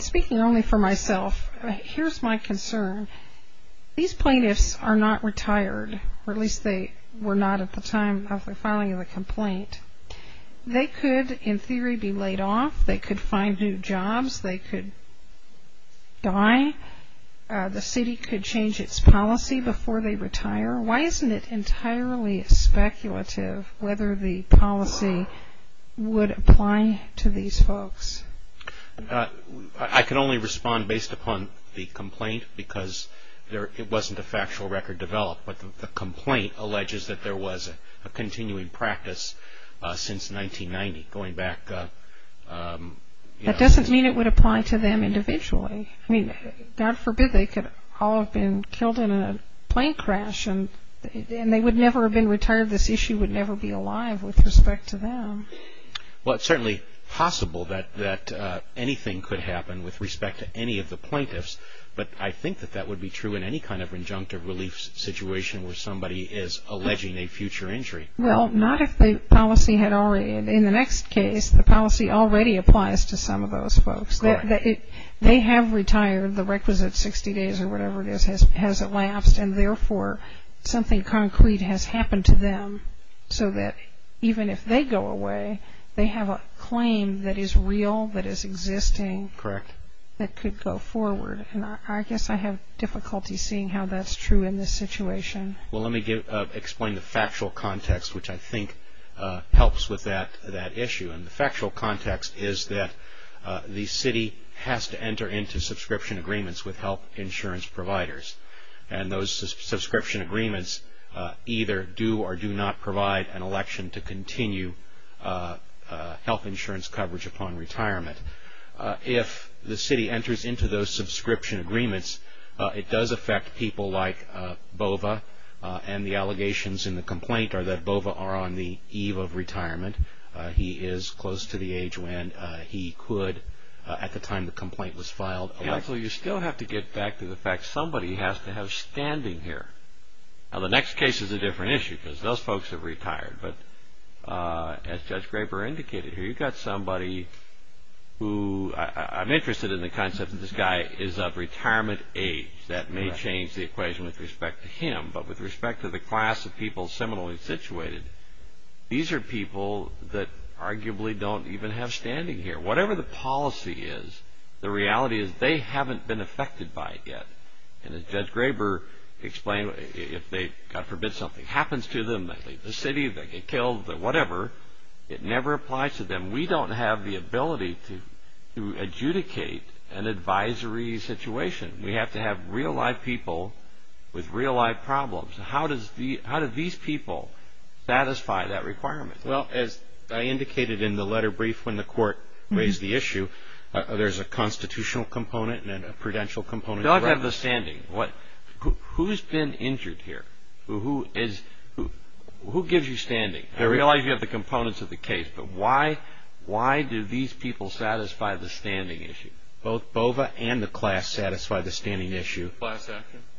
Speaking only for myself, here is my concern. These plaintiffs are not retired, or at least they were not at the time of the filing of the complaint. They could, in theory, be laid off. They could find new jobs. They could die. The city could change its policy before they retire. Why isn't it entirely speculative whether the policy would apply to these folks? I can only respond based upon the complaint, because it wasn't a factual record developed, but the complaint alleges that there was a continuing practice since 1990. That doesn't mean it would apply to them individually. God forbid they could all have been killed in a plane crash, and they would never have been retired. This issue would never be alive with respect to them. It's certainly possible that anything could happen with respect to any of the plaintiffs, but I think that would be true in any kind of injunctive relief situation where somebody is alleging a future injury. Well, not if the policy had already, in the next case, the policy already applies to some of those folks. They have retired. The requisite 60 days or whatever it is has elapsed, and therefore, something concrete has happened to them so that even if they go away, they have a claim that is real, that is existing, that could go forward. I guess I have difficulty seeing how that's true in this situation. Well, let me explain the factual context, which I think helps with that issue. The factual context is that the city has to enter into subscription agreements with health insurance providers, and those subscription agreements either do or do not provide an election to continue health insurance coverage upon retirement. If the city enters into those subscription agreements, it does affect people like Bova, and the allegations in the complaint are that Bova are on the eve of retirement. He is close to the age when he could, at the time the complaint was filed, elect. Also, you still have to get back to the fact that somebody has to have standing here. Now, the next case is a different issue because those folks have retired, but as Judge Graper indicated here, you've got somebody who, I'm interested in the concept that this guy is of retirement age. That may change the equation with respect to him, but with respect to the class of people similarly situated, these are people that arguably don't even have standing here. Whatever the policy is, the reality is they haven't been affected by it yet, and as Judge Graber explained, if they, God forbid, something happens to them, they leave the city, they get killed, whatever, it never applies to them. We don't have the ability to adjudicate an advisory situation. We have to have real live people with real live problems. How do these people satisfy that requirement? Well, as I indicated in the letter brief when the court raised the issue, there's a constitutional component and a prudential component. They don't have the standing. Who's been injured here? Who gives you standing? I realize you have the components of the case, but why do these people satisfy the standing issue? Both BOVA and the class satisfy the standing issue.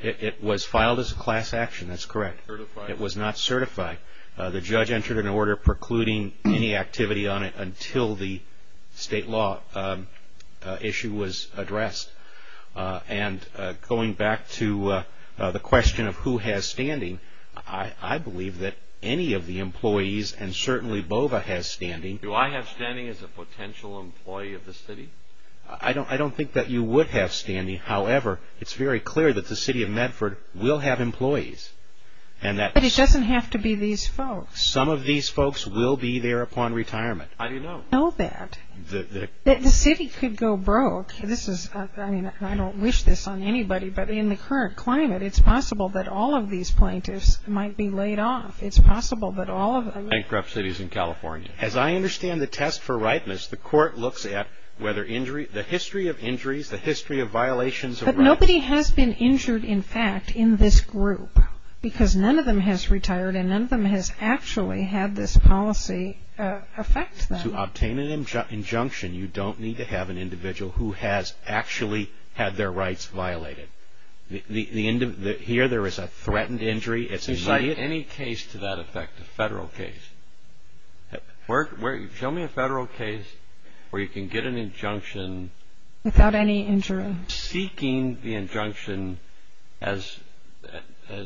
It was filed as a class action, that's correct. It was not certified. The judge entered an order precluding any activity on it until the state law issue was addressed, and going back to the question of who has standing, I believe that any of the employees, and certainly BOVA has standing. Do I have standing as a potential employee of the city? I don't think that you would have standing, however, it's very clear that the city of Medford will have employees. But it doesn't have to be these folks. Some of these folks will be there upon retirement. How do you know? I know that. The city could go broke. I don't wish this on anybody, but in the current climate, it's possible that all of these plaintiffs might be laid off. It's possible that all of them... Bankrupt cities in California. As I understand the test for rightness, the court looks at whether the history of injuries, the history of violations... But nobody has been injured, in fact, in this group, because none of them has retired, and none of them has actually had this policy affect them. To obtain an injunction, you don't need to have an individual who has actually had their rights violated. Here, there is a threatened injury. Any case to that effect, a federal case, show me a federal case where you can get an injunction... Without any injury. Seeking the injunction as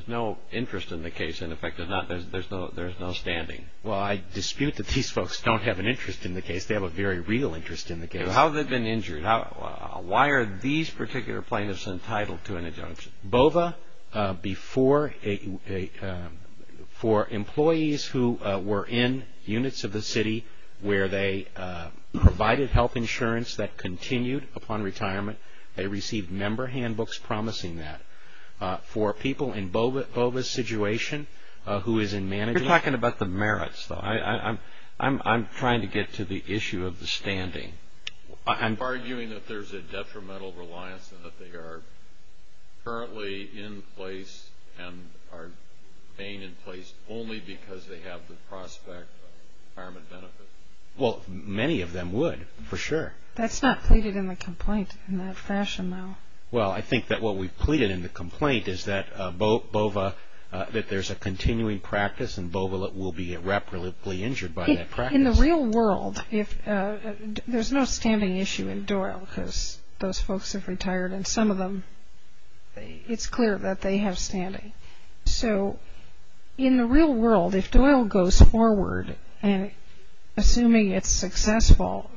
no interest in the case, in effect, there's no standing. Well, I dispute that these folks don't have an interest in the case. They have a very real interest in the case. How have they been injured? Why are these particular plaintiffs entitled to an injunction? There's BOVA for employees who were in units of the city where they provided health insurance that continued upon retirement. They received member handbooks promising that. For people in BOVA's situation, who is in management... You're talking about the merits, though. I'm trying to get to the issue of the standing. You're arguing that there's a detrimental reliance and that they are currently in place and are staying in place only because they have the prospect of retirement benefits. Well, many of them would, for sure. That's not pleaded in the complaint in that fashion, though. Well, I think that what we pleaded in the complaint is that BOVA, that there's a continuing practice and BOVA will be irreparably injured by that practice. In the real world, there's no standing issue in Doyle because those folks have retired and some of them, it's clear that they have standing. So in the real world, if Doyle goes forward and assuming it's successful,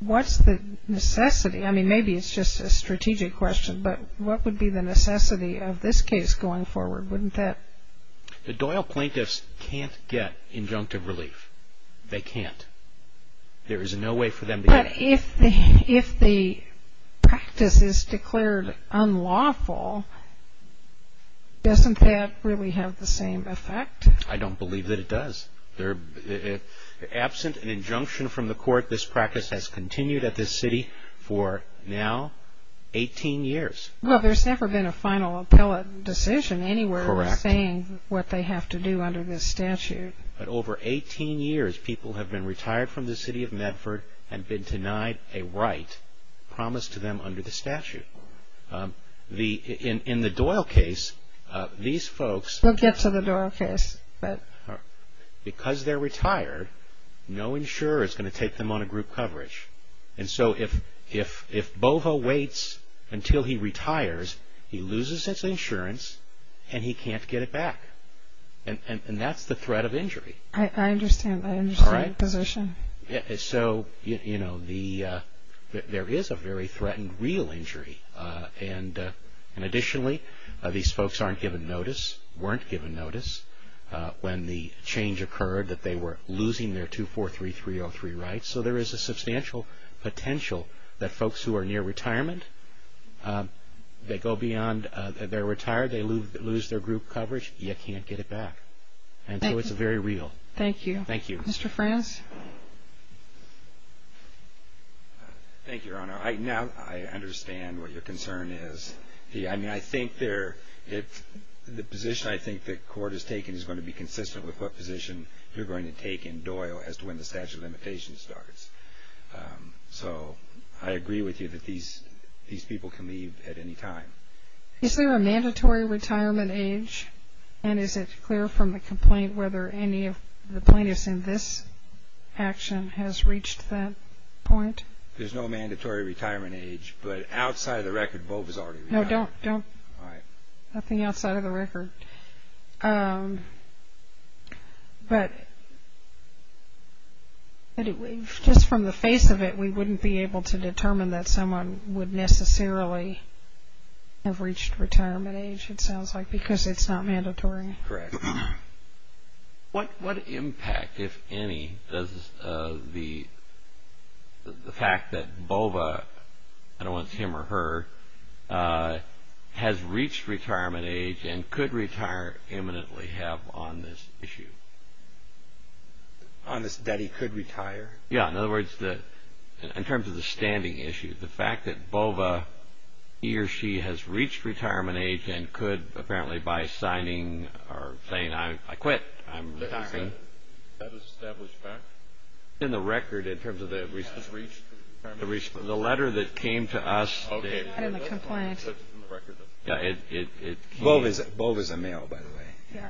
what's the necessity? I mean, maybe it's just a strategic question, but what would be the necessity of this case going forward? Wouldn't that... The Doyle plaintiffs can't get injunctive relief. They can't. There is no way for them to get it. But if the practice is declared unlawful, doesn't that really have the same effect? I don't believe that it does. Absent an injunction from the court, this practice has continued at this city for now 18 years. Well, there's never been a final appellate decision anywhere saying what they have to do under this statute. But over 18 years, people have been retired from the city of Medford and been denied a right promised to them under the statute. In the Doyle case, these folks... We'll get to the Doyle case, but... He retires, he loses his insurance, and he can't get it back. And that's the threat of injury. I understand. I understand your position. So, you know, there is a very threatened real injury. And additionally, these folks aren't given notice, weren't given notice, when the change occurred that they were losing their 243303 rights. So there is a substantial potential that folks who are near retirement, they go beyond... They're retired, they lose their group coverage, you can't get it back. And so it's very real. Thank you. Thank you. Mr. Franz? Thank you, Your Honor. Now, I understand what your concern is. I mean, I think there... The position I think the court has taken is going to be consistent with what position you're going to take in Doyle as to when the statute of limitations starts. So I agree with you that these people can leave at any time. Is there a mandatory retirement age? And is it clear from the complaint whether any of the plaintiffs in this action has reached that point? There's no mandatory retirement age, but outside of the record, Bob has already retired. No, don't. All right. Nothing outside of the record. But just from the face of it, we wouldn't be able to determine that someone would necessarily have reached retirement age, it sounds like, because it's not mandatory. Correct. What impact, if any, does the fact that Bova, I don't know if it's him or her, has reached retirement age and could retire imminently have on this issue? On this that he could retire? Yeah. In other words, in terms of the standing issue, the fact that Bova, he or she has reached retirement age and could apparently by signing or saying, I quit, I'm retiring. Is that an established fact? In the record in terms of the... Has reached retirement age. The letter that came to us... Okay. Not in the complaint. Bova's a male, by the way.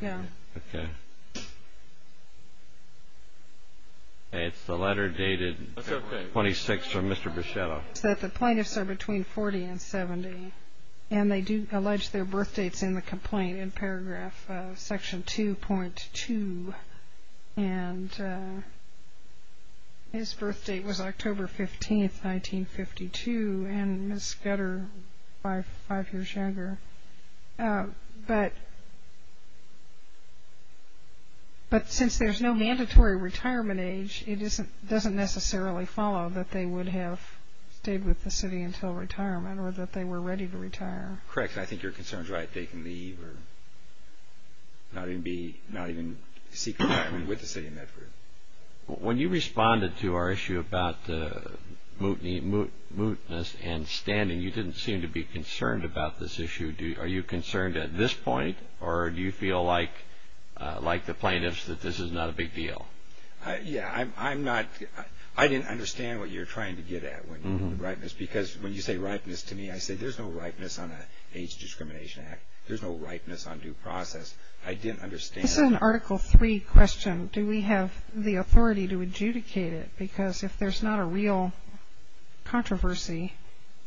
Yeah. Okay. It's the letter dated 26 from Mr. Bichetto. The plaintiffs are between 40 and 70, and they do allege their birth dates in the complaint in paragraph section 2.2. And his birth date was October 15, 1952, and Ms. Scudder five years younger. But since there's no mandatory retirement age, it doesn't necessarily follow that they would have stayed with the city until retirement or that they were ready to retire. Correct. I think your concern is right. They can leave or not even seek retirement with the city of Medford. When you responded to our issue about the mootness and standing, you didn't seem to be concerned about this issue. Are you concerned at this point, or do you feel like the plaintiffs that this is not a big deal? Yeah. I'm not... I didn't understand what you're trying to get at when you say ripeness. Because when you say ripeness to me, I say there's no ripeness on an age discrimination act. There's no ripeness on due process. I didn't understand... This is an Article 3 question. Do we have the authority to adjudicate it? Because if there's not a real controversy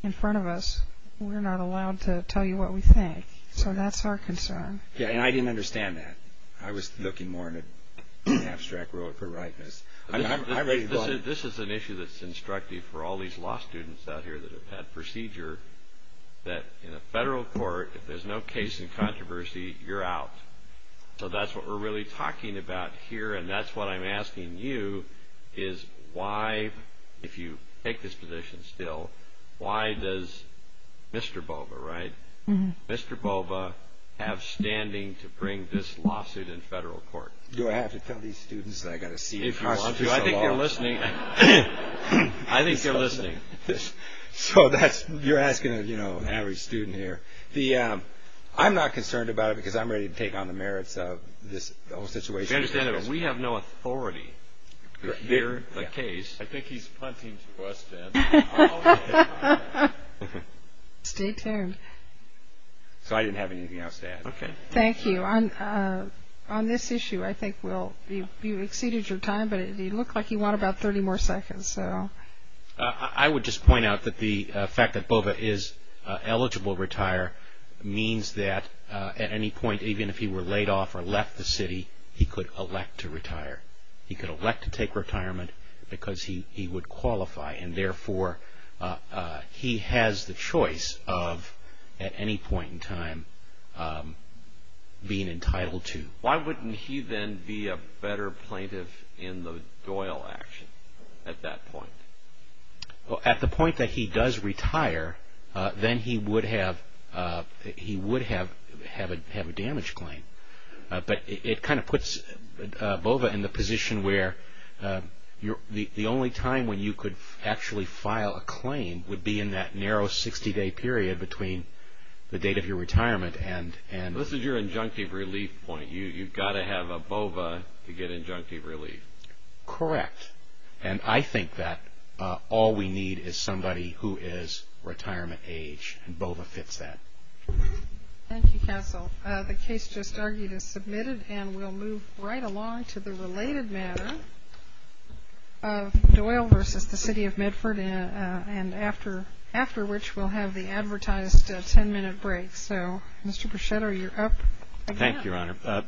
in front of us, we're not allowed to tell you what we think. So that's our concern. Yeah, and I didn't understand that. I was looking more in an abstract world for ripeness. This is an issue that's instructive for all these law students out here that have had procedure that in a federal court, if there's no case in controversy, you're out. So that's what we're really talking about here, and that's what I'm asking you is why, if you take this position still, why does Mr. Boba, right? Mr. Boba have standing to bring this lawsuit in federal court? Do I have to tell these students that I've got to see if you want this at all? I think they're listening. I think they're listening. So that's... You're asking an average student here. I'm not concerned about it because I'm ready to take on the merits of this whole situation. You have to understand that we have no authority to hear the case. I think he's punting to us, Deb. Stay tuned. So I didn't have anything else to add. Okay. Thank you. On this issue, I think, Will, you exceeded your time, but it looked like you want about 30 more seconds. I would just point out that the fact that Boba is eligible to retire means that at any point, even if he were laid off or left the city, he could elect to retire. He could elect to take retirement because he would qualify, and therefore he has the choice of, at any point in time, being entitled to. Why wouldn't he then be a better plaintiff in the Doyle action at that point? Well, at the point that he does retire, then he would have a damage claim. But it kind of puts Boba in the position where the only time when you could actually file a claim would be in that narrow 60-day period between the date of your retirement and... This is your injunctive relief point. You've got to have a Boba to get injunctive relief. Correct. And I think that all we need is somebody who is retirement age, and Boba fits that. Thank you, Counsel. The case just argued is submitted, and we'll move right along to the related matter of Doyle versus the City of Medford, and after which we'll have the advertised 10-minute break. So, Mr. Bruchetta, you're up. Thank you, Your Honor.